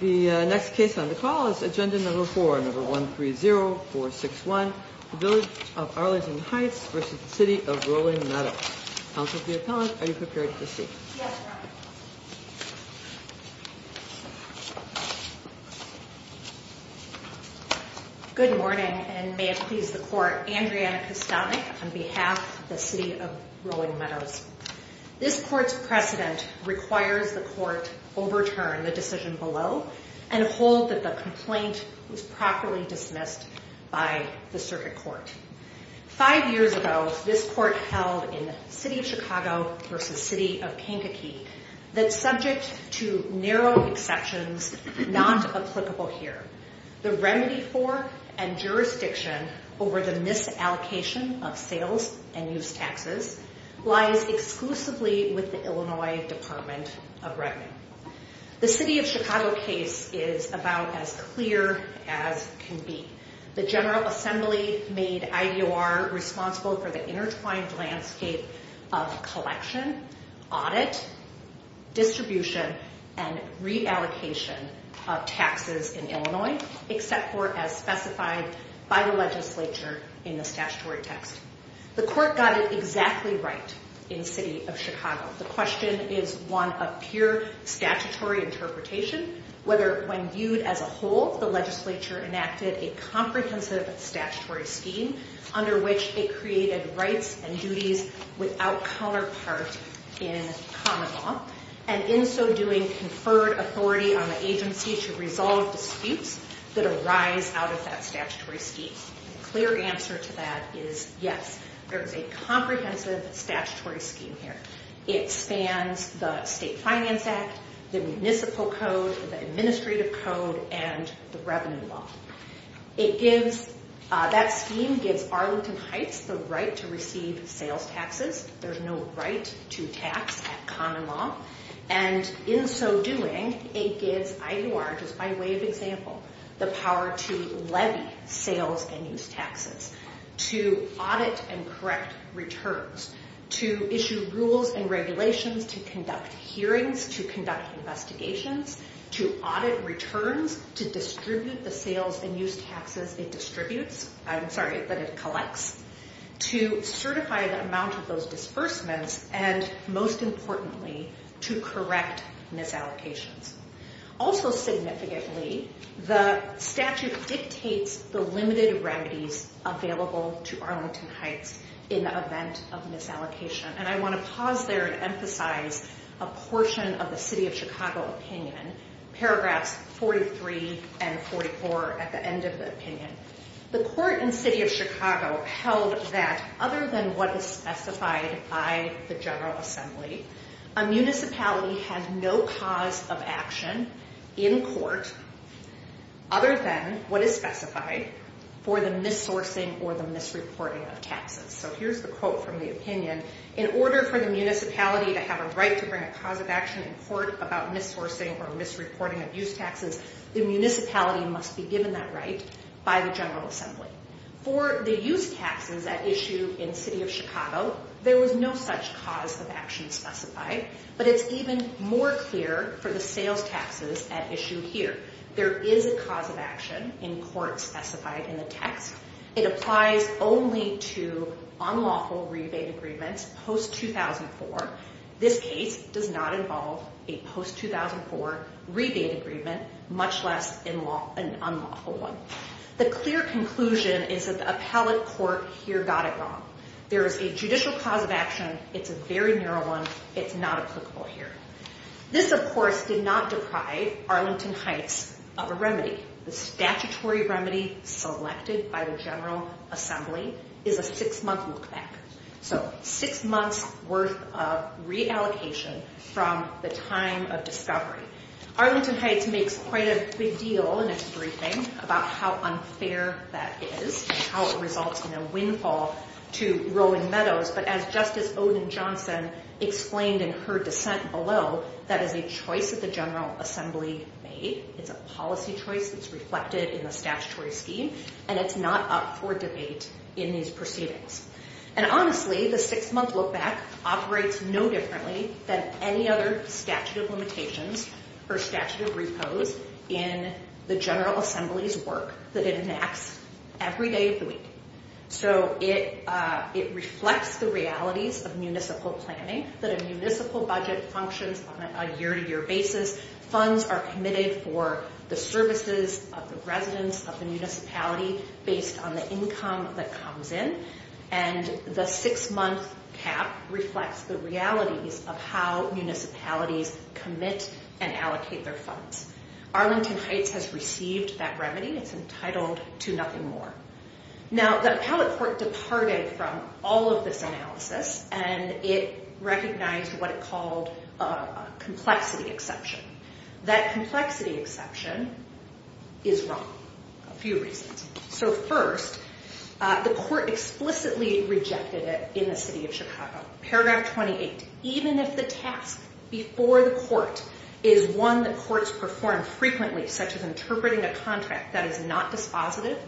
The next case on the call is agenda number 4, number 130461, the Village of Arlington Heights v. City of Rolling Meadows. Counsel for the appellant, are you prepared to speak? Yes, Your Honor. Good morning, and may it please the Court, Andriana Kostownik on behalf of the City of Rolling Meadows. This Court's precedent requires the Court overturn the decision below and hold that the complaint was properly dismissed by the Circuit Court. Five years ago, this Court held in the City of Chicago v. City of Kankakee that, subject to narrow exceptions not applicable here, the remedy for and jurisdiction over the misallocation of sales and use taxes lies exclusively with the Illinois Department of Revenue. The City of Chicago case is about as clear as can be. The General Assembly made IDOR responsible for the intertwined landscape of collection, audit, distribution, and reallocation of taxes in Illinois, except for as specified by the legislature in the statutory text. The Court got it exactly right in the City of Chicago. The question is one of pure statutory interpretation, whether when viewed as a whole, the legislature enacted a comprehensive statutory scheme under which it created rights and duties without counterpart in common law, and in so doing, conferred authority on the agency to resolve disputes that arise out of that statutory scheme. The clear answer to that is yes, there is a comprehensive statutory scheme here. It spans the State Finance Act, the Municipal Code, the Administrative Code, and the Revenue Law. That scheme gives Arlington Heights the right to receive sales taxes. There's no right to tax at common law. And in so doing, it gives IDOR, just by way of example, the power to levy sales and use taxes, to audit and correct returns, to issue rules and regulations, to conduct hearings, to conduct investigations, to audit returns, to distribute the sales and use taxes it distributes, I'm sorry, but it collects, to certify the amount of those disbursements, and most importantly, to correct misallocations. Also significantly, the statute dictates the limited remedies available to Arlington Heights in the event of misallocation. And I want to pause there and emphasize a portion of the City of Chicago opinion, paragraphs 43 and 44 at the end of the opinion. The court in City of Chicago held that other than what is specified by the General Assembly, a municipality has no cause of action in court other than what is specified for the missourcing or the misreporting of taxes. So here's the quote from the opinion. In order for the municipality to have a right to bring a cause of action in court about missourcing or misreporting of use taxes, the municipality must be given that right by the General Assembly. For the use taxes at issue in City of Chicago, there was no such cause of action specified, but it's even more clear for the sales taxes at issue here. There is a cause of action in court specified in the text. It applies only to unlawful rebate agreements post-2004. This case does not involve a post-2004 rebate agreement, much less an unlawful one. The clear conclusion is that the appellate court here got it wrong. There is a judicial cause of action. It's a very narrow one. It's not applicable here. This, of course, did not deprive Arlington Heights of a remedy. The statutory remedy selected by the General Assembly is a six-month look-back. So, six months' worth of reallocation from the time of discovery. Arlington Heights makes quite a big deal in its briefing about how unfair that is, how it results in a windfall to Rowan Meadows. But as Justice Odin-Johnson explained in her dissent below, that is a choice that the General Assembly made. It's a policy choice that's reflected in the statutory scheme, and it's not up for debate in these proceedings. And honestly, the six-month look-back operates no differently than any other statute of limitations or statute of repose in the General Assembly's work that it enacts every day of the week. So, it reflects the realities of municipal planning, that a municipal budget functions on a year-to-year basis. Funds are committed for the services of the residents of the municipality based on the income that comes in. And the six-month cap reflects the realities of how municipalities commit and allocate their funds. Arlington Heights has received that remedy. It's entitled to nothing more. Now, the Appellate Court departed from all of this analysis, and it recognized what it called a complexity exception. That complexity exception is wrong, for a few reasons. So, first, the Court explicitly rejected it in the City of Chicago. Paragraph 28, even if the task before the Court is one that Courts perform frequently, such as interpreting a contract that is not dispositive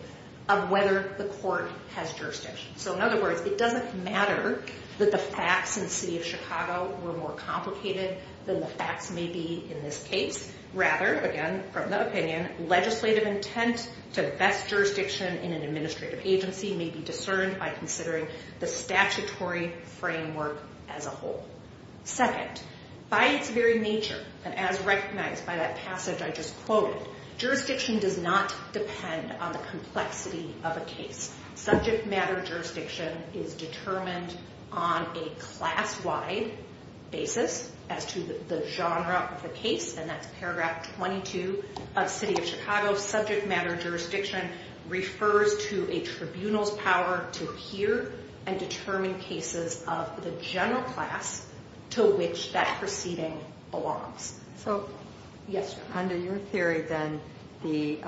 of whether the Court has jurisdiction. So, in other words, it doesn't matter that the facts in the City of Chicago were more complicated than the facts may be in this case. Rather, again, from the opinion, legislative intent to best jurisdiction in an administrative agency may be discerned by considering the statutory framework as a whole. Second, by its very nature, and as recognized by that passage I just quoted, jurisdiction does not depend on the complexity of a case. Subject matter jurisdiction is determined on a class-wide basis as to the genre of the case, and that's paragraph 22 of City of Chicago. Subject matter jurisdiction refers to a tribunal's power to hear and determine cases of the general class to which that proceeding belongs. So, under your theory, then, the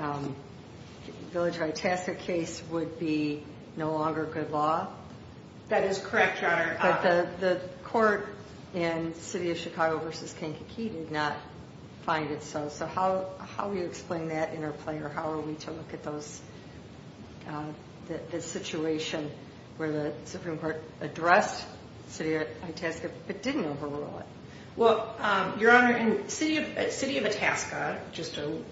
Village of Itasca case would be no longer good law? That is correct, Your Honor. But the Court in City of Chicago v. Kankakee did not find it so. So how do you explain that interplay, or how are we to look at the situation where the Supreme Court addressed City of Itasca but didn't overrule it? Well, Your Honor, City of Itasca, just to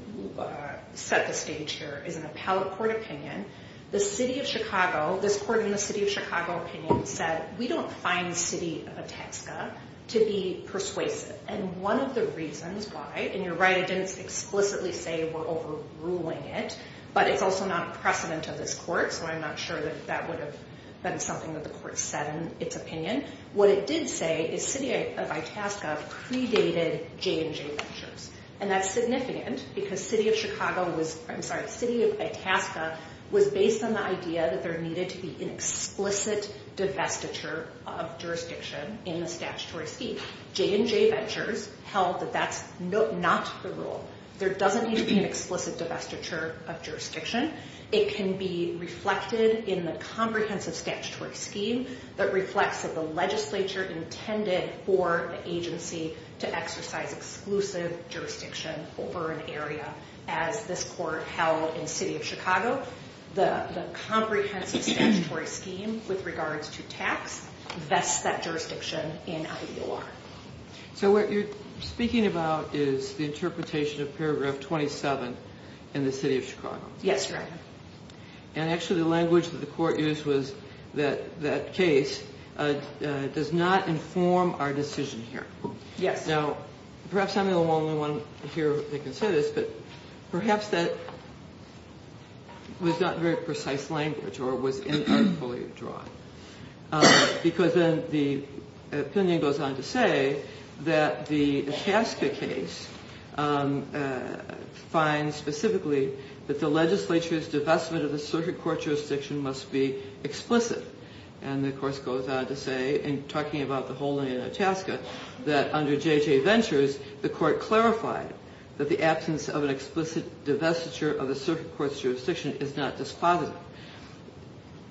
set the stage here, is an appellate court opinion. The City of Chicago, this Court in the City of Chicago opinion, said, we don't find City of Itasca to be persuasive. And one of the reasons why, and you're right, I didn't explicitly say we're overruling it, but it's also not a precedent of this Court, so I'm not sure that that would have been something that the Court said in its opinion. What it did say is City of Itasca predated J&J Ventures. And that's significant because City of Chicago was, I'm sorry, City of Itasca was based on the idea that there needed to be an explicit divestiture of jurisdiction in the statutory scheme. J&J Ventures held that that's not the rule. There doesn't need to be an explicit divestiture of jurisdiction. It can be reflected in the comprehensive statutory scheme that reflects that the legislature intended for the agency to exercise exclusive jurisdiction over an area. As this Court held in City of Chicago, the comprehensive statutory scheme with regards to tax vests that jurisdiction in IOR. So what you're speaking about is the interpretation of paragraph 27 in the City of Chicago? Yes, Your Honor. And actually the language that the Court used was that that case does not inform our decision here. Now, perhaps I'm the only one here that can say this, but perhaps that was not very precise language or it was not fully drawn. Because then the opinion goes on to say that the Itasca case finds specifically that the legislature's divestment of the circuit court jurisdiction must be explicit. And of course goes on to say in talking about the holding in Itasca that under J&J Ventures, the Court clarified that the absence of an explicit divestiture of the circuit court's jurisdiction is not dispositive.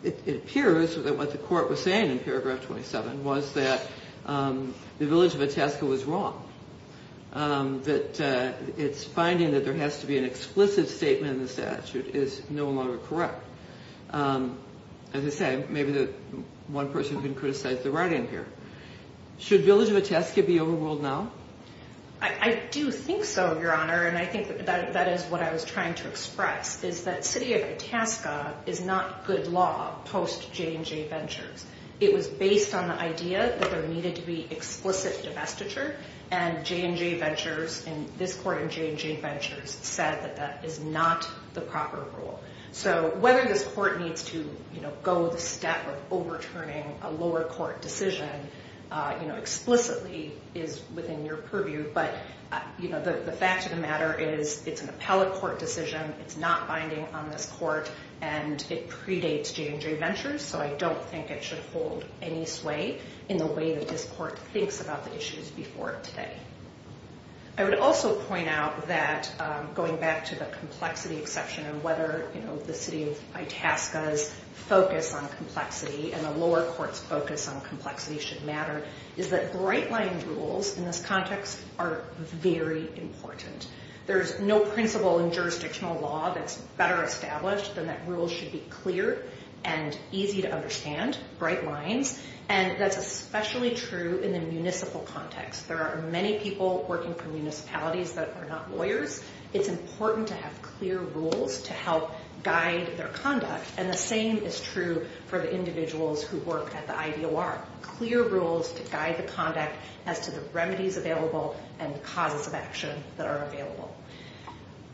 It appears that what the Court was saying in paragraph 27 was that the village of Itasca was wrong. That it's finding that there has to be an explicit statement in the statute is no longer correct. As I say, maybe one person can criticize the writing here. Should village of Itasca be overruled now? I do think so, Your Honor, and I think that is what I was trying to express is that City of Itasca is not good law post J&J Ventures. It was based on the idea that there needed to be explicit divestiture and J&J Ventures and this Court in J&J Ventures said that that is not the proper rule. So whether this Court needs to go the step of overturning a lower court decision explicitly is within your purview, but the fact of the matter is it's an appellate court decision. It's not binding on this Court. And it predates J&J Ventures, so I don't think it should hold any sway in the way that this Court thinks about the issues before today. I would also point out that going back to the complexity exception and whether the City of Itasca's focus on complexity and the lower court's focus on complexity should matter is that bright line rules in this context are very important. There's no principle in jurisdictional law that's better established than that rules should be clear and easy to understand, bright lines, and that's especially true in the municipal context. There are many people working for municipalities that are not lawyers. It's important to have clear rules to help guide their conduct and the same is true for the individuals who work at the IDOR. Clear rules to guide the conduct as to the remedies available and the causes of action that are available.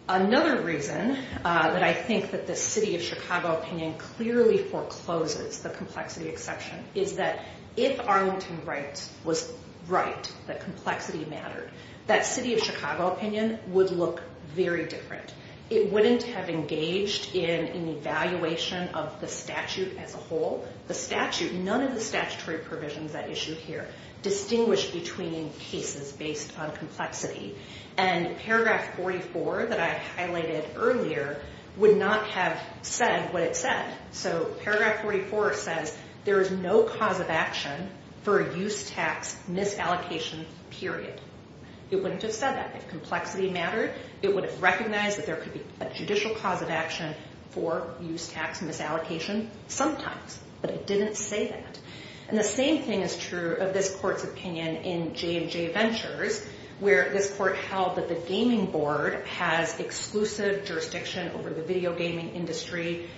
Another reason that I think that the City of Chicago opinion clearly forecloses the complexity exception is that if Arlington Rights was right that complexity mattered, that City of Chicago opinion would look very different. It wouldn't have engaged in an evaluation of the statute as a whole. The statute, none of the statutory provisions that are issued here, distinguish between cases based on complexity. And paragraph 44 that I highlighted earlier would not have said what it said. So paragraph 44 says there is no cause of action for a use tax misallocation period. It wouldn't have said that if complexity mattered. It would have recognized that there could be a judicial cause of action for use tax misallocation sometimes. But it didn't say that. And the same thing is true of this court's opinion in J&J Ventures where this court held that the gaming board has exclusive jurisdiction over the video gaming industry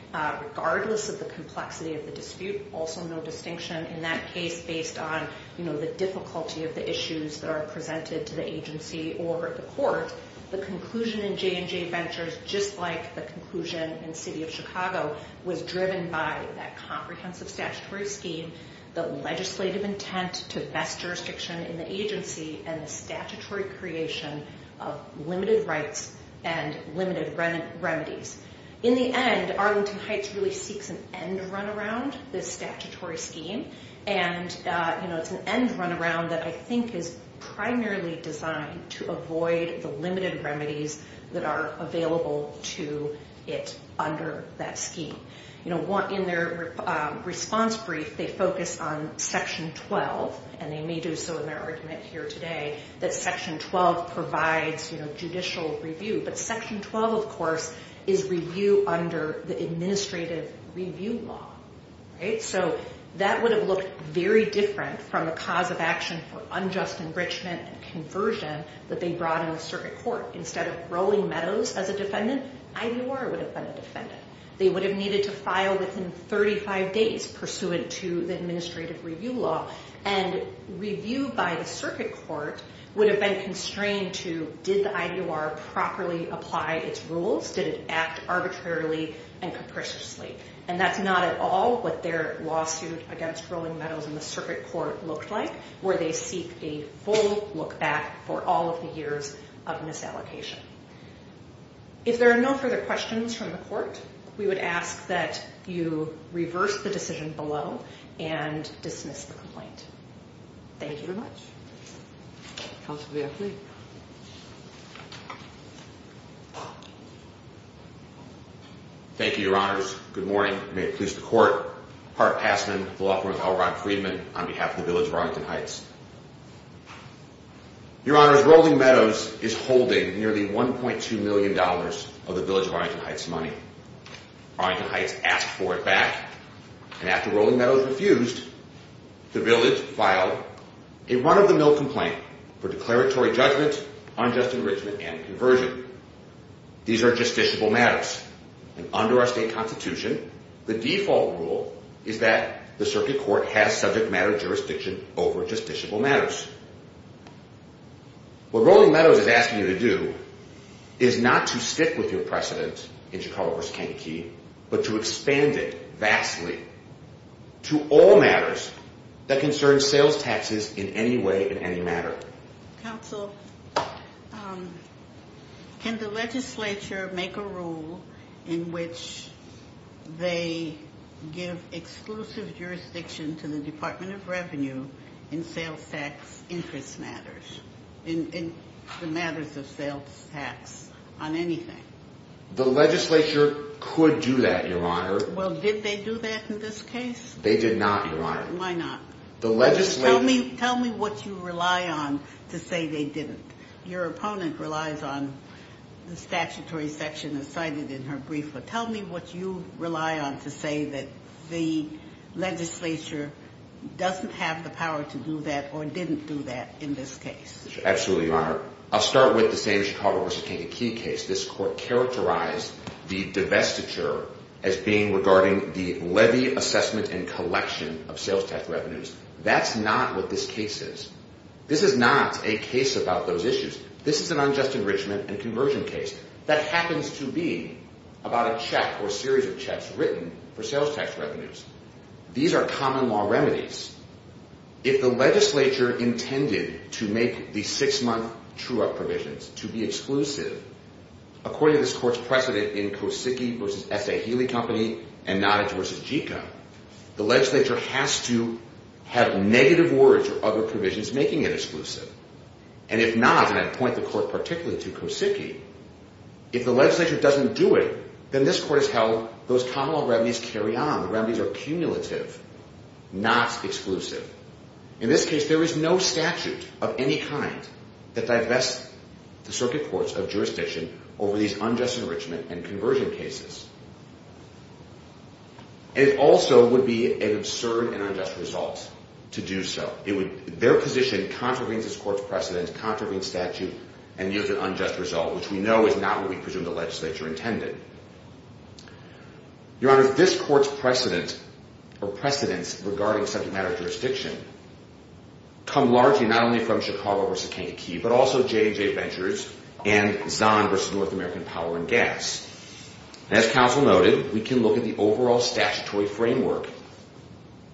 regardless of the complexity of the dispute. Also no distinction in that case based on the difficulty of the issues that are presented to the agency or the court. The conclusion in J&J Ventures, just like the conclusion in City of Chicago, was driven by that comprehensive statutory scheme, the legislative intent to best jurisdiction in the agency, and the statutory creation of limited rights and limited remedies. In the end, Arlington Heights really seeks an end-runaround, this statutory scheme. And it's an end-runaround that I think is primarily designed to avoid the limited remedies that are available to it under that scheme. In their response brief, they focus on Section 12, and they may do so in their argument here today, that Section 12 provides judicial review. But Section 12, of course, is review under the Administrative Review Law. So that would have looked very different from the cause of action for unjust enrichment and conversion that they brought in the circuit court. Instead of Rolling Meadows as a defendant, Ivor would have been a defendant. They would have needed to file within 35 days pursuant to the Administrative Review Law. And review by the circuit court would have been constrained to, did the IDOR properly apply its rules? Did it act arbitrarily and capriciously? And that's not at all what their lawsuit against Rolling Meadows in the circuit court looked like, where they seek a full look-back for all of the years of misallocation. If there are no further questions from the court, we would ask that you reverse the decision below and dismiss the complaint. Thank you very much. Thank you, Your Honors. Good morning. May it please the Court. Hart Passman, the law firm of L. Ron Friedman, on behalf of the Village of Arlington Heights. Your Honors, Rolling Meadows is holding nearly $1.2 million of the Village of Arlington Heights money. Arlington Heights asked for it back. And after Rolling Meadows refused, the Village filed a run-of-the-mill complaint for declaratory judgment, unjust enrichment, and conversion. These are justiciable matters. And under our state constitution, the default rule is that the circuit court has subject matter jurisdiction over justiciable matters. What Rolling Meadows is asking you to do is not to stick with your precedent in Chicago v. Kentucky, but to expand it vastly to all matters that concern sales taxes in any way, in any matter. Counsel, can the legislature make a rule in which they give exclusive jurisdiction to the Department of Revenue in sales tax interest matters, in the matters of sales tax, on anything? The legislature could do that, Your Honor. Well, did they do that in this case? They did not, Your Honor. Why not? Tell me what you rely on to say they didn't. Your opponent relies on the statutory section as cited in her brief. Tell me what you rely on to say that the legislature doesn't have the power to do that or didn't do that in this case. Absolutely, Your Honor. I'll start with the same Chicago v. Kentucky case. This court characterized the divestiture as being regarding the levy assessment and collection of sales tax revenues. That's not what this case is. This is not a case about those issues. This is an unjust enrichment and conversion case that happens to be about a check or a series of checks written for sales tax revenues. These are common law remedies. If the legislature intended to make these six-month true-up provisions to be exclusive, according to this court's precedent in Kosicki v. S. A. Healy Company and Nottage v. JICA, the legislature has to have negative words for other provisions making it exclusive. And if not, and I'd point the court particularly to Kosicki, if the legislature doesn't do it, then this court has held those common law remedies carry on. Remedies are cumulative, not exclusive. In this case, there is no statute of any kind that divests the circuit courts of jurisdiction over these unjust enrichment and conversion cases. It also would be an absurd and unjust result to do so. Their position contravenes this court's precedent, contravenes statute, and gives an unjust result, which we know is not what we presume the legislature intended. Your Honor, this court's precedence regarding subject matter of jurisdiction come largely not only from Chicago v. Kankakee, but also J&J Ventures and Zahn v. North American Power and Gas. As counsel noted, we can look at the overall statutory framework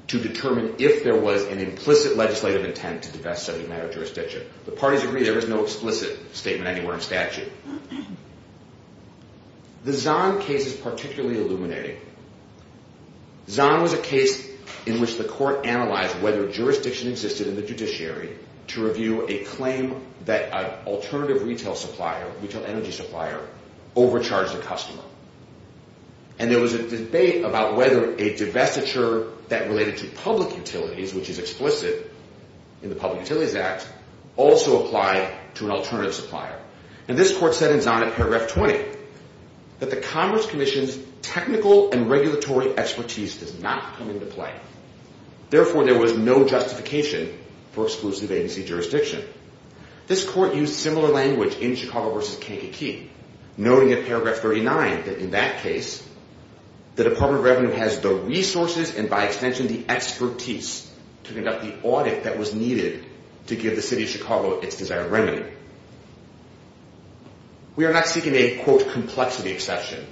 to determine if there was an implicit legislative intent to divest subject matter of jurisdiction. The parties agree there is no explicit statement anywhere in statute. The Zahn case is particularly illuminating. Zahn was a case in which the court analyzed whether jurisdiction existed in the judiciary to review a claim that an alternative retail supplier, retail energy supplier, overcharged a customer. And there was a debate about whether a divestiture that related to public utilities, which is explicit in the Public Utilities Act, also applied to an alternative supplier. Now this court said in Zahn at paragraph 20 that the Commerce Commission's technical and regulatory expertise does not come into play. Therefore, there was no justification for exclusive agency jurisdiction. This court used similar language in Chicago v. Kankakee noting at paragraph 39 that in that case the Department of Revenue has the resources and by extension the expertise to conduct the audit that was needed to give the city of Chicago its public utilities out of revenue. We are not seeking a quote complexity exception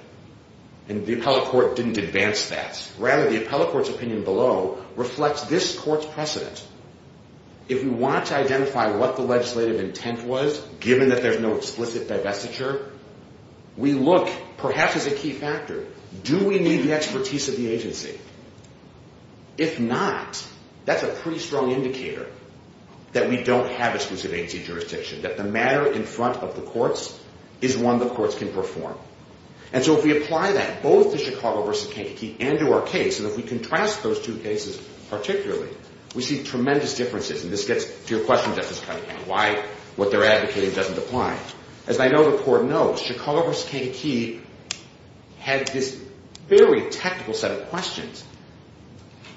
and the appellate court didn't advance that. Rather, the appellate court's opinion below reflects this court's precedent. If we want to identify what the legislative intent was given that there's no explicit divestiture we look, perhaps as a key factor, do we need the expertise of the agency? If not, that's a pretty strong indicator that we don't have exclusive agency jurisdiction, that the matter in front of the courts is one the courts can perform. And so if we apply that both to Chicago v. Kankakee and to our case, and if we contrast those two cases particularly, we see tremendous differences. And this gets to your question Justice Cunningham, why what they're advocating doesn't apply. As I know the court knows, Chicago v. Kankakee had this very technical set of questions.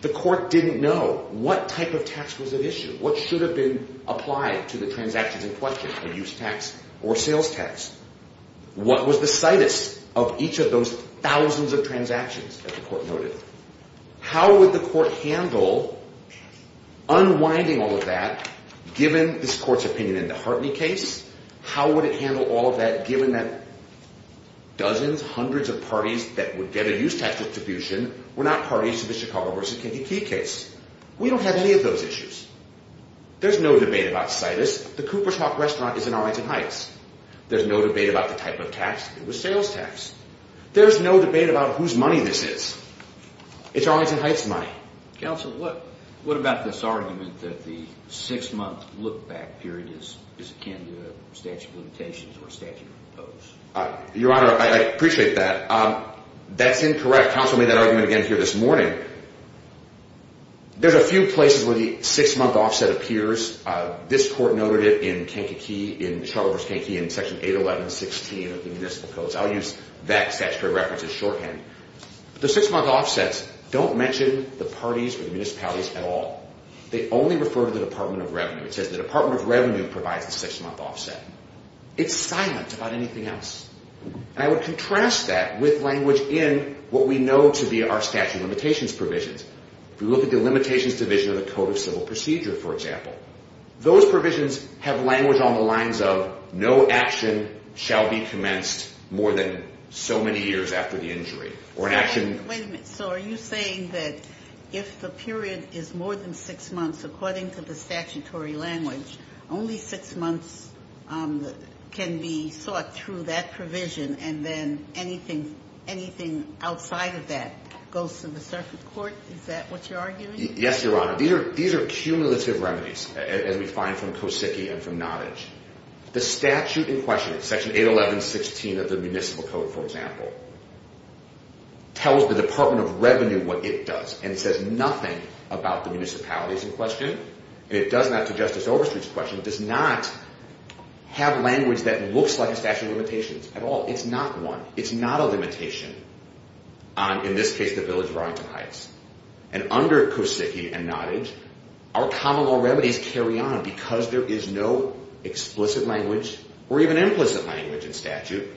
The court didn't know what type of tax was at issue? What should have been applied to the transactions in question, a use tax or sales tax? What was the situs of each of those thousands of transactions that the court noted? How would the court handle unwinding all of that given this court's opinion in the Hartley case? How would it handle all of that given that dozens, hundreds of parties that would get a use tax distribution were not parties to the Chicago v. Kankakee case? We don't have any of those issues. There's no debate about situs. The Cooper's Hawk restaurant is in Arlington Heights. There's no debate about the type of tax. It was sales tax. There's no debate about whose money this is. It's Arlington Heights money. Counsel, what about this argument that the six-month look-back period is akin to statute of limitations or statute of imposed? Your Honor, I appreciate that. That's incorrect. Counsel made that argument again here this morning. There's a few places where the six-month offset appears. This court noted it in Kankakee, in Chicago v. Kankakee, in section 811.16 of the municipal codes. I'll use that statutory reference as shorthand. The six-month offsets don't mention the parties or the municipalities at all. They only refer to the Department of Revenue. It says the Department of Revenue provides the six-month offset. It's silent about anything else. I would contrast that with language in what we know to be our statute of limitations provisions. If we look at the limitations division of the Code of Civil Procedure, for example, those provisions have language on the lines of, no action shall be commenced more than so many years after the injury. Wait a minute. So are you saying that if the period is more than six months, according to the statutory language, only six months can be sought through that provision, and then anything outside of that goes to the circuit court? Is that what you're arguing? Yes, Your Honor. These are cumulative remedies, as we find from Kosicki and from Nottage. The statute in question, section 811.16 of the municipal code, for example, tells the Department of Revenue what it does and says nothing about the municipalities in question. And it does not to Justice Overstreet's question. It does not have language that looks like a statute of limitations at all. It's not one. It's not a limitation on, in this case, the village of Arlington Heights. And under Kosicki and Nottage, our common law remedies carry on because there is no explicit language or even implicit language in statute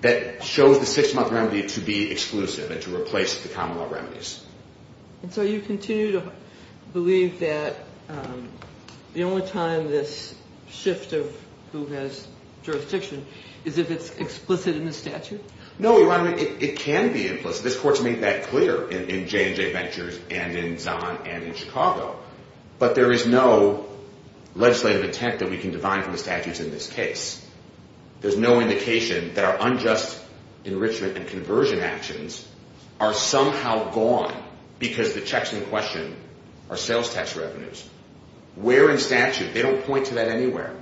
that shows the six-month remedy to be exclusive and to replace the common law remedies. And so you continue to believe that the only time this shift of who has jurisdiction is if it's explicit in the statute? No, Your Honor. It can be implicit. This Court's made that clear in J&J Ventures and in Zahn and in Chicago. But there is no legislative intent that we can divine from the statutes in this case. There's no indication that our unjust enrichment and conversion actions are somehow gone because the checks in question are sales tax revenues. Where in statute? They don't point to that anywhere.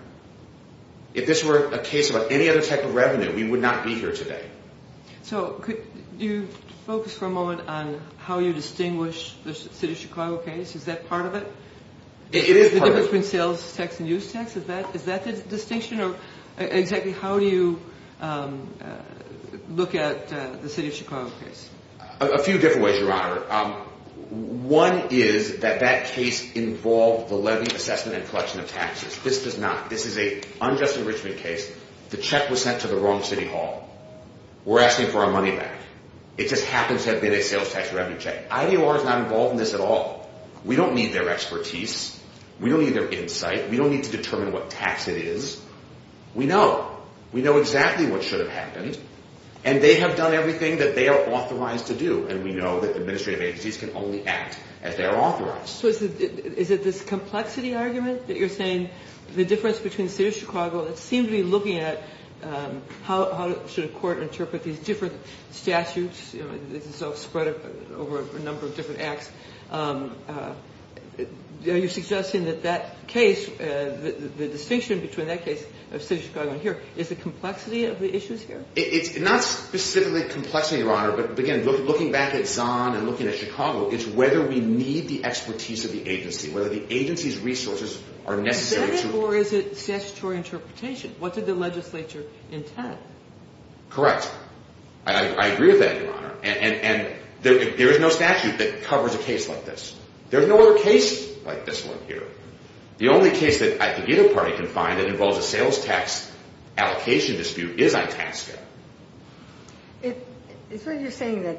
If this were a case about any other type of revenue, we would not be here today. So could you focus for a moment on how you distinguish the City of Chicago case? Is that part of it? It is part of it. The difference between sales tax and use tax? Is that the distinction? Or exactly how do you look at the City of Chicago case? A few different ways, Your Honor. One is that that case involved the levy assessment and collection of taxes. This does not. This is an unjust enrichment case. The check was sent to the wrong City Hall. We're asking for our money back. It just happens to have been a sales tax revenue check. IDOR is not involved in this at all. We don't need their expertise. We don't need their insight. We don't need to determine what tax it is. We know. We know exactly what should have happened. And they have done everything that they are authorized to do. And we know that administrative agencies can only act as they are authorized. So is it this complexity argument that you're saying the difference between the City of Chicago seems to be looking at how should a court interpret these different statutes? Spread over a number of different acts. Are you suggesting that that case, the distinction between that case of the City of Chicago and here, is the complexity of the issues here? It's not specifically complexity, Your Honor. But again, looking back at Zahn and looking at Chicago, it's whether we need the expertise of the agency. Whether the agency's resources are necessary to... Or is it statutory interpretation? What did the legislature intend? Correct. I agree with that, Your Honor. There is no statute that covers a case like this. There is no other case like this one here. The only case that I think IDOR Party can find that involves a sales tax allocation dispute is Itasca. It's what you're saying that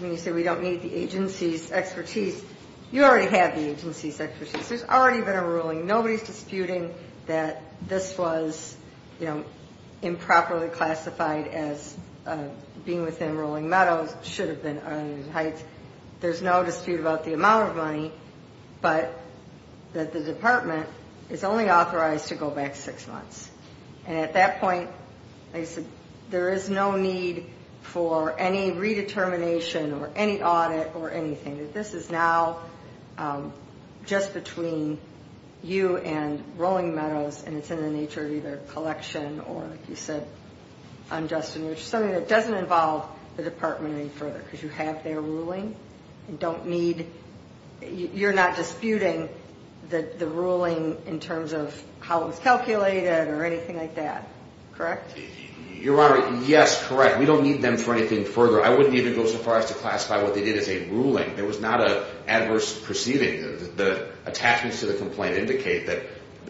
when you say we don't need the agency's expertise, you already have the agency's expertise. There's already been a ruling. Nobody's disputing that this was improperly classified as being within Rolling Meadows. It should have been under the Heights. There's no dispute about the amount of money, but that the department is only authorized to go back six months. And at that point, there is no need for any redetermination or any audit or anything. This is now just between you and Rolling Meadows, and it's in the nature of either collection or, like you said, something that doesn't involve the department any further because you have their ruling and don't need... You're not disputing the ruling in terms of how it was calculated or correct? Your Honor, yes. Correct. We don't need them for anything further. I wouldn't even go so far as to classify what they did as a ruling. There was not an adverse proceeding. The attachments to the complaint indicate that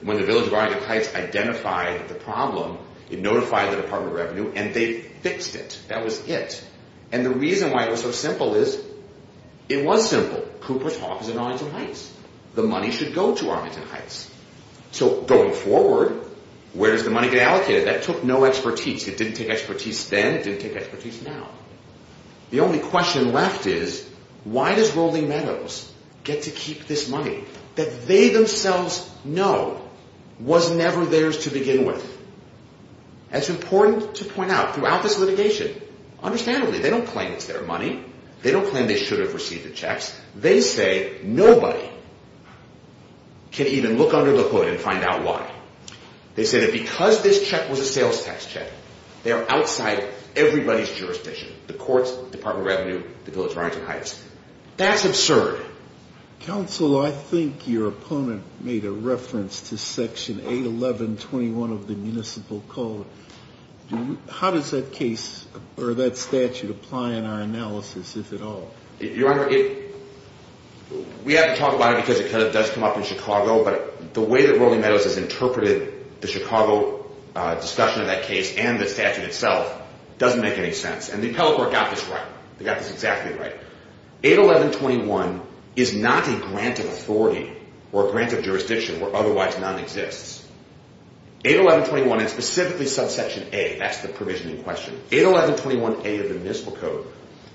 when the Village of Arlington Heights identified the problem, it notified the Department of Revenue, and they fixed it. That was it. And the reason why it was so simple is it was simple. Cooper's Hawk is in Arlington Heights. The money should go to Arlington Heights. So going forward, where does the money get allocated? That took no expertise. It didn't take expertise then. It didn't take expertise now. The only question left is why does Rolling Meadows get to keep this money that they themselves know was never theirs to begin with? That's important to point out throughout this litigation. Understandably, they don't claim it's their money. They don't claim they should have received the checks. They say nobody can even look under the hood and find out why. They say that because this check was a sales tax check, they are outside everybody's jurisdiction. The courts, Department of Revenue, the Village of Arlington Heights. That's absurd. Counsel, I think your opponent made a reference to Section 811.21 of the Municipal Code. How does that case, or that statute, apply in our analysis, if at all? Your Honor, we haven't talked about it because it does come up in Chicago, but the way that Rolling Meadows has interpreted the Chicago discussion of that case and the statute itself doesn't make any sense. And the appellate court got this right. They got this exactly right. 811.21 is not a grant of authority or a grant of jurisdiction where otherwise none exists. 811.21 and specifically subsection A, that's the provision in question, 811.21A of the Municipal Code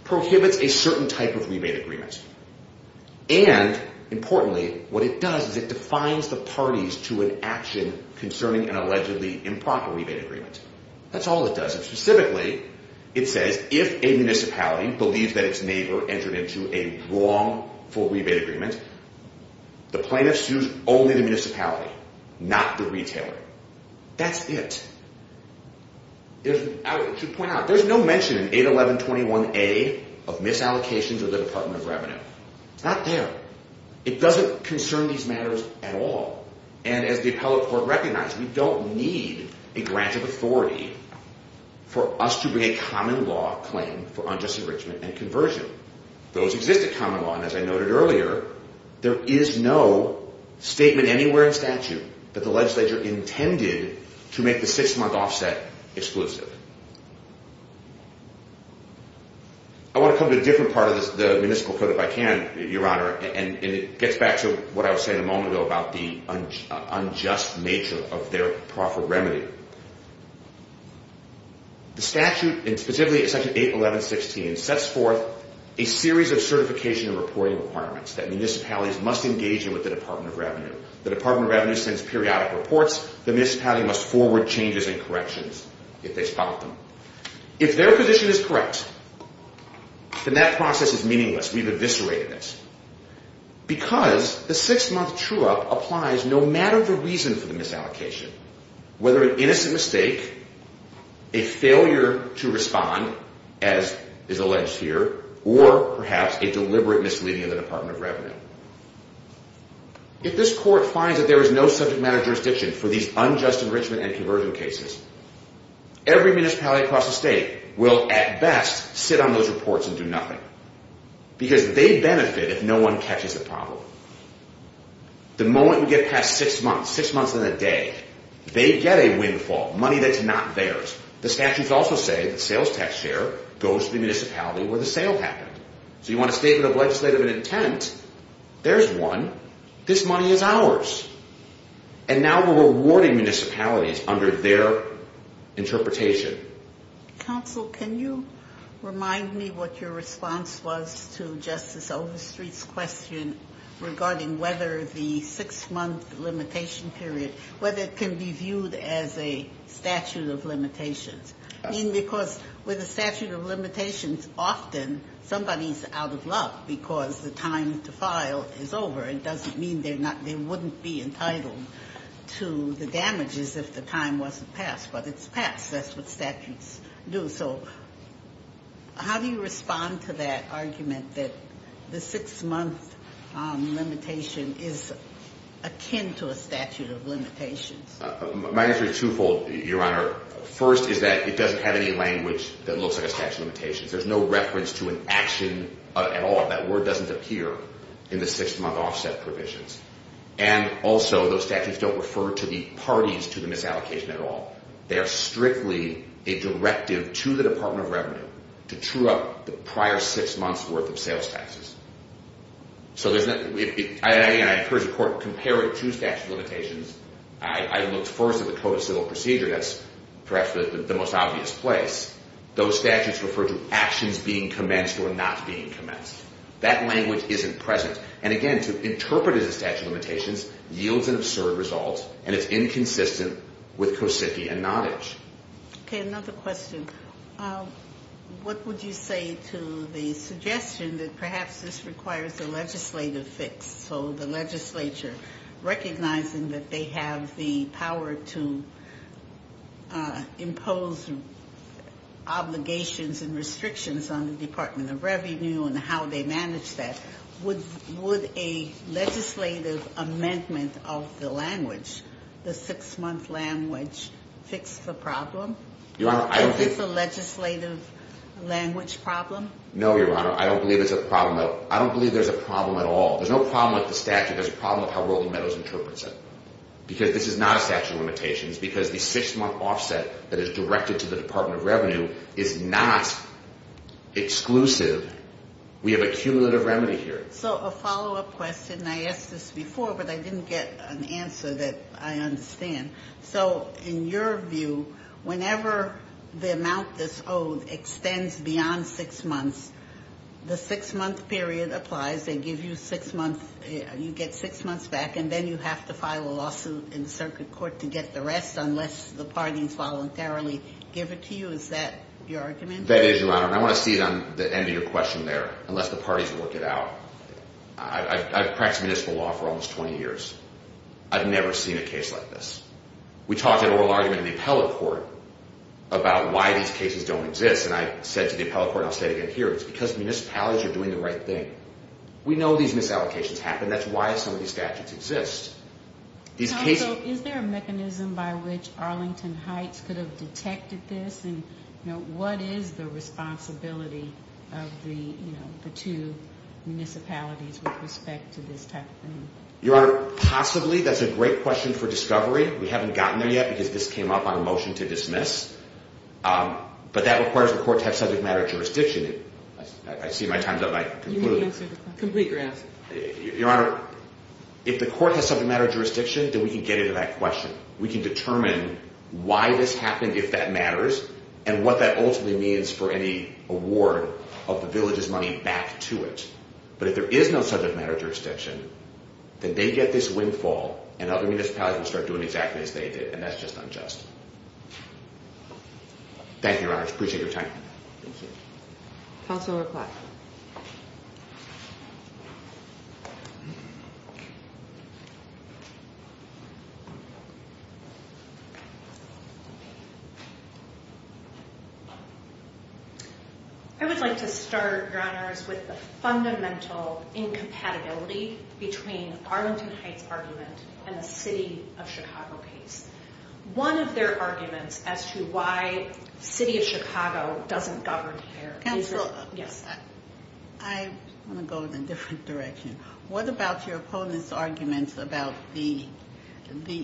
prohibits a certain type of rebate agreement. And, importantly, what it does is it defines the parties to an action concerning an allegedly improper rebate agreement. That's all it does. Specifically, it says if a municipality believes that its neighbor entered into a wrongful rebate agreement, the plaintiff sues only the municipality, not the retailer. That's it. I should point out, there's no mention in 811.21A of misallocations of the Department of Revenue. It's not there. It doesn't concern these matters at all. And as the appellate court recognized, we don't need a grant of authority for us to bring a common law claim for unjust enrichment and conversion. Those exist at common law, and as I noted earlier, there is no statement anywhere in statute that the legislature intended to make the six-month offset exclusive. I want to come to a different part of the Municipal Code, if I can, Your Honor, and it gets back to what I was saying a moment ago about the unjust nature of their proffered remedy. The statute, and specifically 811.16, sets forth a series of certification and reporting requirements that municipalities must engage in with the Department of Revenue. The Department of Revenue sends periodic reports. The municipality must forward changes and corrections if they spot them. If their position is correct, then that process is meaningless. We've eviscerated it. Because the six-month true-up applies no matter the reason for the misallocation, whether an innocent mistake, a failure to respond, as is alleged here, or perhaps a deliberate misleading of the Department of Revenue. If this court finds that there is no subject matter jurisdiction for these unjust enrichment and conversion cases, every municipality across the state will, at best, sit on those reports and do nothing. Because they benefit if no one catches the problem. The moment we get past six months, six months and a day, they get a windfall, money that's not theirs. The statutes also say that sales tax share goes to the municipality where the sale happened. So you want a statement of legislative intent, there's one. This money is ours. And now we're rewarding municipalities under their interpretation. Counsel, can you remind me what your response was to Justice Overstreet's question regarding whether the six-month limitation period, whether it can be viewed as a statute of limitations. Because with a statute of limitations, often somebody's out of luck because the time to file is over. It doesn't mean they wouldn't be entitled to the damages if the time wasn't passed. But it's passed. That's what statutes do. So how do you respond to that argument that the six-month limitation is akin to a statute of limitations? My answer is twofold, Your Honor. First is that it doesn't have any language that looks like a statute of limitations. There's no reference to an action at all. That word doesn't appear in the six-month offset provisions. And also, those statutes don't refer to the parties to the misallocation at all. They are strictly a directive to the Department of Revenue to true up the prior six months' worth of sales taxes. So there's not... Compare it to statute of limitations. I looked first at the Code of Civil Procedure. That's perhaps the most obvious place. Those statutes refer to actions being commenced or not being commenced. That language isn't present. And again, to interpret it as a statute of limitations yields an absurd result, and it's inconsistent with Kosicki and Nottage. Okay, another question. What would you say to the suggestion that perhaps this requires a legislative fix, so the legislature recognizing that they have the power to impose obligations and restrictions on the Department of Revenue and how they manage that. Would a legislative amendment of the language, the six-month language, fix the problem? Is this a legislative language problem? No, Your Honor. I don't believe it's a problem. I don't believe there's a problem at all. There's no problem with the statute. There's a problem with how Rolling Meadows interprets it. Because this is not a statute of limitations. Because the six-month offset that is directed to the Department of Revenue is not exclusive. We have a cumulative remedy here. So, a follow-up question. I asked this before, but I didn't get an answer that I understand. So, in your view, whenever the amount that's owed extends beyond six months, the six-month period applies, they give you six months, you get six months back, and then you have to file a lawsuit in the circuit court to get the rest, unless the parties voluntarily give it to you? Is that your argument? That is, Your Honor. And I want to see it on the end of your question there, unless the parties have worked it out. I've practiced municipal law for almost 20 years. I've never seen a case like this. We talked in an oral argument in the appellate court about why these cases don't exist, and I said to the appellate court, and I'll say it again here, it's because municipalities are doing the right thing. We know these misallocations happen. That's why some of these statutes exist. Is there a mechanism by which Arlington Heights could have detected this, and what is the responsibility of the two municipalities with respect to this type of thing? Your Honor, possibly. That's a great question for discovery. We haven't gotten there yet, because this came up on a motion to dismiss. But that requires the court to have subject matter jurisdiction. I see my time's up, and I conclude. You may answer the question. Complete your answer. Your Honor, if the court has subject matter jurisdiction, then we can get into that question. We can determine why this happened, if that matters, and what that ultimately means for any award of the village's money back to it. But if there is no subject matter jurisdiction, then they get this windfall, and other municipalities will start doing exactly as they did, and that's just unjust. Thank you, Your Honor. Appreciate your time. Thank you. Counsel will reply. I would like to start, Your Honor, with the fundamental incompatibility between Arlington Heights' argument and the City of Chicago case. One of their arguments as to why City of Chicago doesn't govern here... Counsel, I want to go in a different direction. What about your opponent's argument about the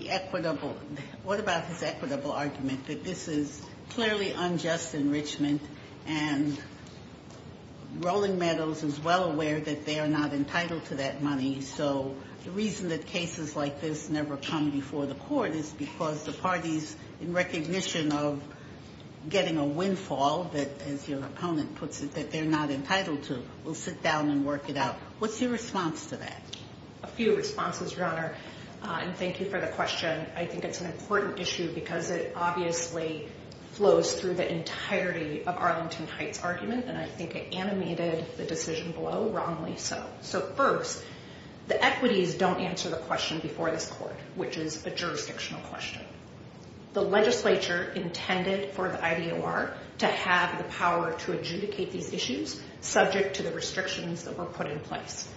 equitable... What about his equitable argument that this is clearly unjust enrichment, and Rolling Meadows is well aware that they are not entitled to that money, so the reason that cases like this never come before the court is because the party is in recognition of getting a windfall that, as your opponent puts it, that they're not entitled to. We'll sit down and work it out. What's your response to that? A few responses, Your Honor, and thank you for the question. I think it's an important issue because it obviously flows through the entirety of Arlington Heights' argument, and I think it animated the decision below wrongly so. So, first, the equities don't answer the question before this court, which is a jurisdictional question. The legislature intended for the IDOR to have the power to adjudicate these issues, subject to the restrictions that were put in place.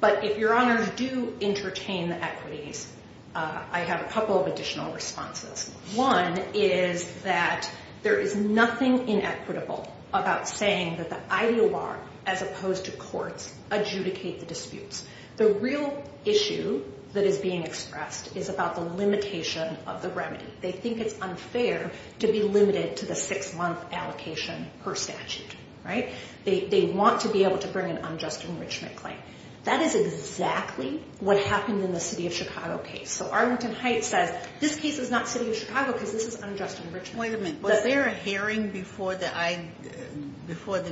But if, Your Honor, you do entertain the equities, I have a couple of additional responses. One is that there is nothing inequitable about saying that the IDOR, as opposed to courts, adjudicate the disputes. The real issue that is being expressed is about the limitation of the remedy. They think it's unfair to be limited to the six-month allocation per statute, right? They want to be able to bring an unjust enrichment claim. That is exactly what happened in the City of Chicago case. So, Arlington Heights says, this case is not City of Chicago because this is unjust enrichment. Wait a minute. Was there a hearing before the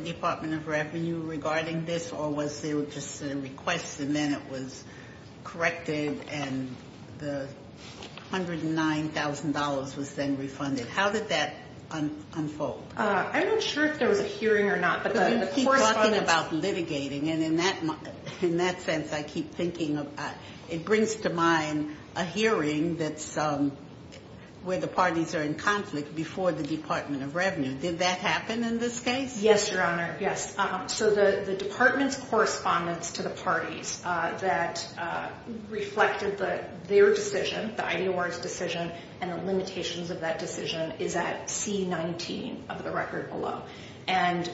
Department of Revenue regarding this, or was there just a request, and then it was corrected, and the $109,000 was then refunded? How did that unfold? I'm not sure if there was a hearing or not, but the course of... You keep talking about litigating, and in that sense, I keep thinking it brings to mind a hearing that's where the parties are in conflict before the Department of Revenue. Did that happen in this case? Yes, Your Honor, yes. So, the Department's correspondence to the parties that reflected their decision, the IDOR's decision, and the limitations of that decision is at C-19 of the record below, and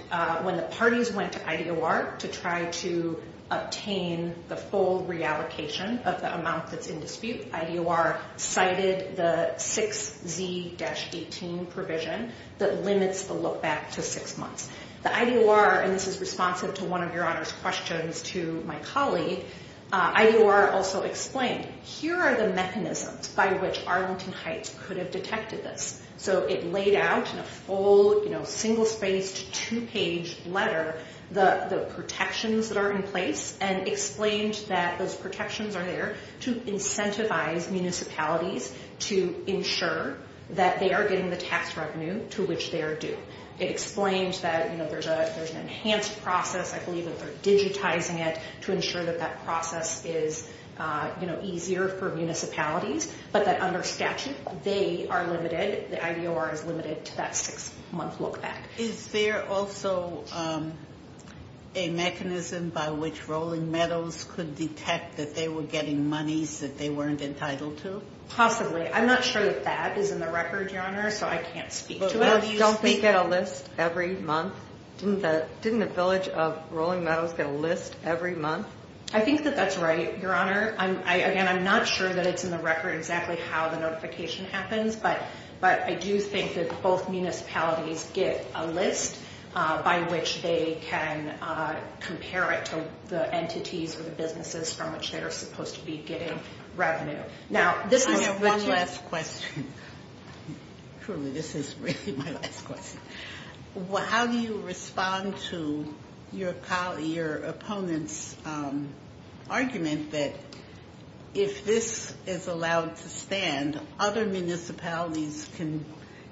when the parties went to IDOR to try to obtain the full reallocation of the amount that's in dispute, IDOR cited the 6Z-18 provision that limits the lookback to six months. The IDOR, and this is responsive to one of Your Honor's questions to my colleague, IDOR also explained, here are the mechanisms by which Arlington Heights could have detected this. So, it laid out in a full, single-spaced, two-page letter the protections that are in place and explained that those protections are there to incentivize municipalities to ensure that they are getting the tax revenue to which they are due. It explained that there's an enhanced process, I believe that they're digitizing it to ensure that that process is easier for municipalities, but that under statute, they are limited, the IDOR is limited to that six-month lookback. Is there also a mechanism by which Rolling Meadows could detect that they were getting monies that they weren't entitled to? Possibly. I'm not sure that that is in the record, Your Honor, so I can't speak to it. Don't they get a list every month? Didn't the village of Rolling Meadows get a list every month? I think that that's right, Your Honor. Again, I'm not sure that it's in the record exactly how the notification happens, but I do think that both municipalities get a list by which they can compare it to the entities or the businesses from which they are supposed to be getting revenue. Now, this is... I have one last question. Truly, this is really my last question. How do you respond to your opponent's argument that if this is allowed to stand, other municipalities can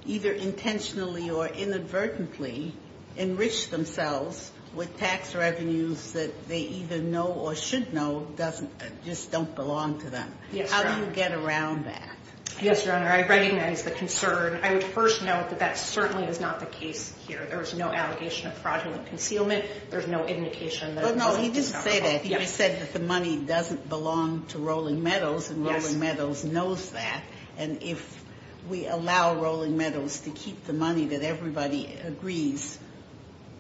either intentionally or inadvertently enrich themselves with tax revenues that they either know or should know just don't belong to them? How do you get around that? Yes, Your Honor, I recognize the concern. I would first note that that certainly is not the case here. There's no allegation of fraudulent concealment. There's no indication that it's not. No, he didn't say that. He just said that the money doesn't belong to Rolling Meadows, and Rolling Meadows knows that. And if we allow Rolling Meadows to keep the money that everybody agrees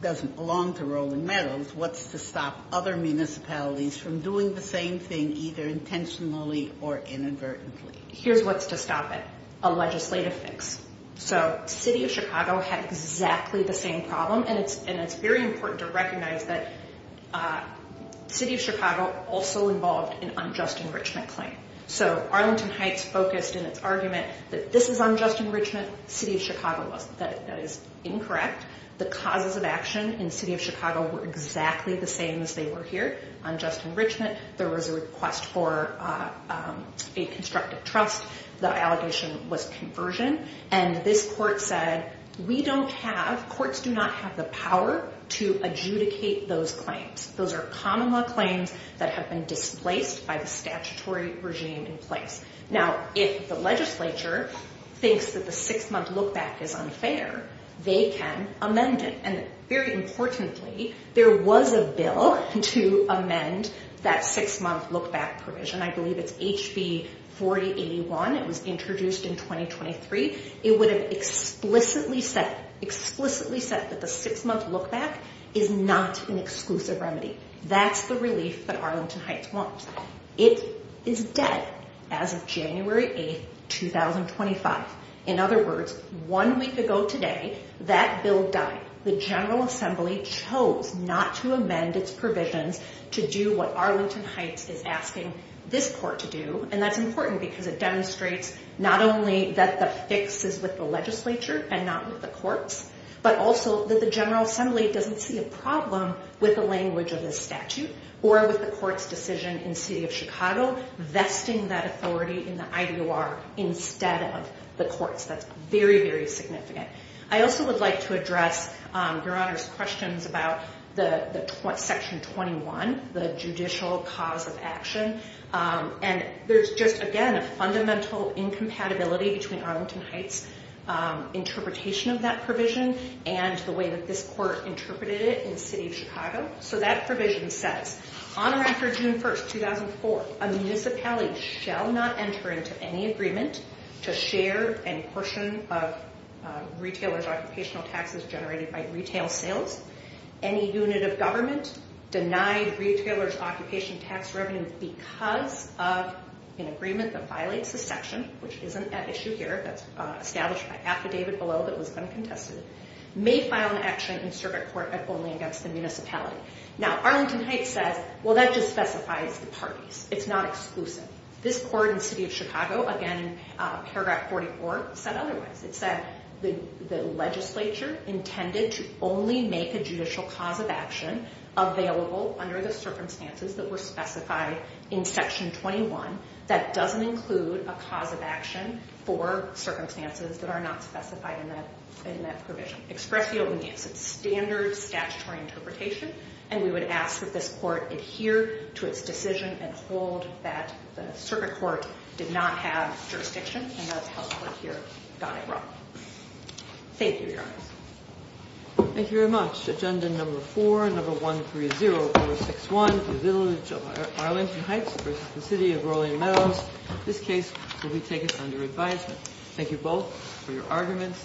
doesn't belong to Rolling Meadows, what's to stop other municipalities from doing the same thing either intentionally or inadvertently? Here's what's to stop it. A legislative fix. City of Chicago had exactly the same problem, and it's very important to recognize that City of Chicago also involved an unjust enrichment claim. Arlington Heights focused in its argument that this is unjust enrichment. City of Chicago was. That is incorrect. The causes of action in City of Chicago were exactly the same as they were here, unjust enrichment. There was a request for a constructive trust. The allegation was conversion, and this court said we don't have. Courts do not have the power to adjudicate those claims. Those are common law claims that have been displaced by the statutory regime in place. Now, if the legislature thinks that the six-month lookback is unfair, they can amend it. And very importantly, there was a bill to amend that six-month lookback provision. I believe it's HB 4081. It was introduced in 2023. It would have explicitly said explicitly said that the six-month lookback is not an exclusive remedy. That's the relief that Arlington Heights wants. It is dead as of January 8, 2025. In other words, one week ago today, that bill died. The General Assembly chose not to amend its provisions to do what Arlington Heights is asking this court to do, and that's important because it demonstrates not only that the fix is with the legislature and not with the courts, but also that the General Assembly doesn't see a problem with the language of this statute or with the court's decision in the City of Chicago vesting that authority in the IDOR instead of the courts. That's very, very significant. I also would like to address Your Honor's questions about Section 21, the judicial cause of action. There's just, again, a fundamental incompatibility between Arlington Heights interpretation of that provision and the way that this court interpreted it in the City of Chicago. That provision says, on or after June 1, 2004, a municipality shall not enter into any agreement to share any portion of retailers' occupational taxes generated by retail sales. Any unit of government denied retailers' occupation tax revenue because of an agreement that violates the section, which isn't at issue here, that's established by affidavit below that was then contested, may file an action in circuit court only against the municipality. Now, Arlington Heights says, well, that just specifies the parties. It's not exclusive. This court in the City of Chicago, again, Paragraph 44 said otherwise. It said the legislature intended to only make a judicial cause of action available under the circumstances that were specified in Section 21 that doesn't include a cause of action for circumstances that are not specified in that provision. Express the obedience. It's standard statutory interpretation and we would ask that this court adhere to its decision and hold that the circuit court did not have jurisdiction and that's how the court here got it wrong. Thank you, Your Honor. Thank you very much. Agenda number 4, number 130461, the village of Arlington Heights versus the City of Raleigh Meadows. This case will be taken under advisement. Thank you both for your arguments.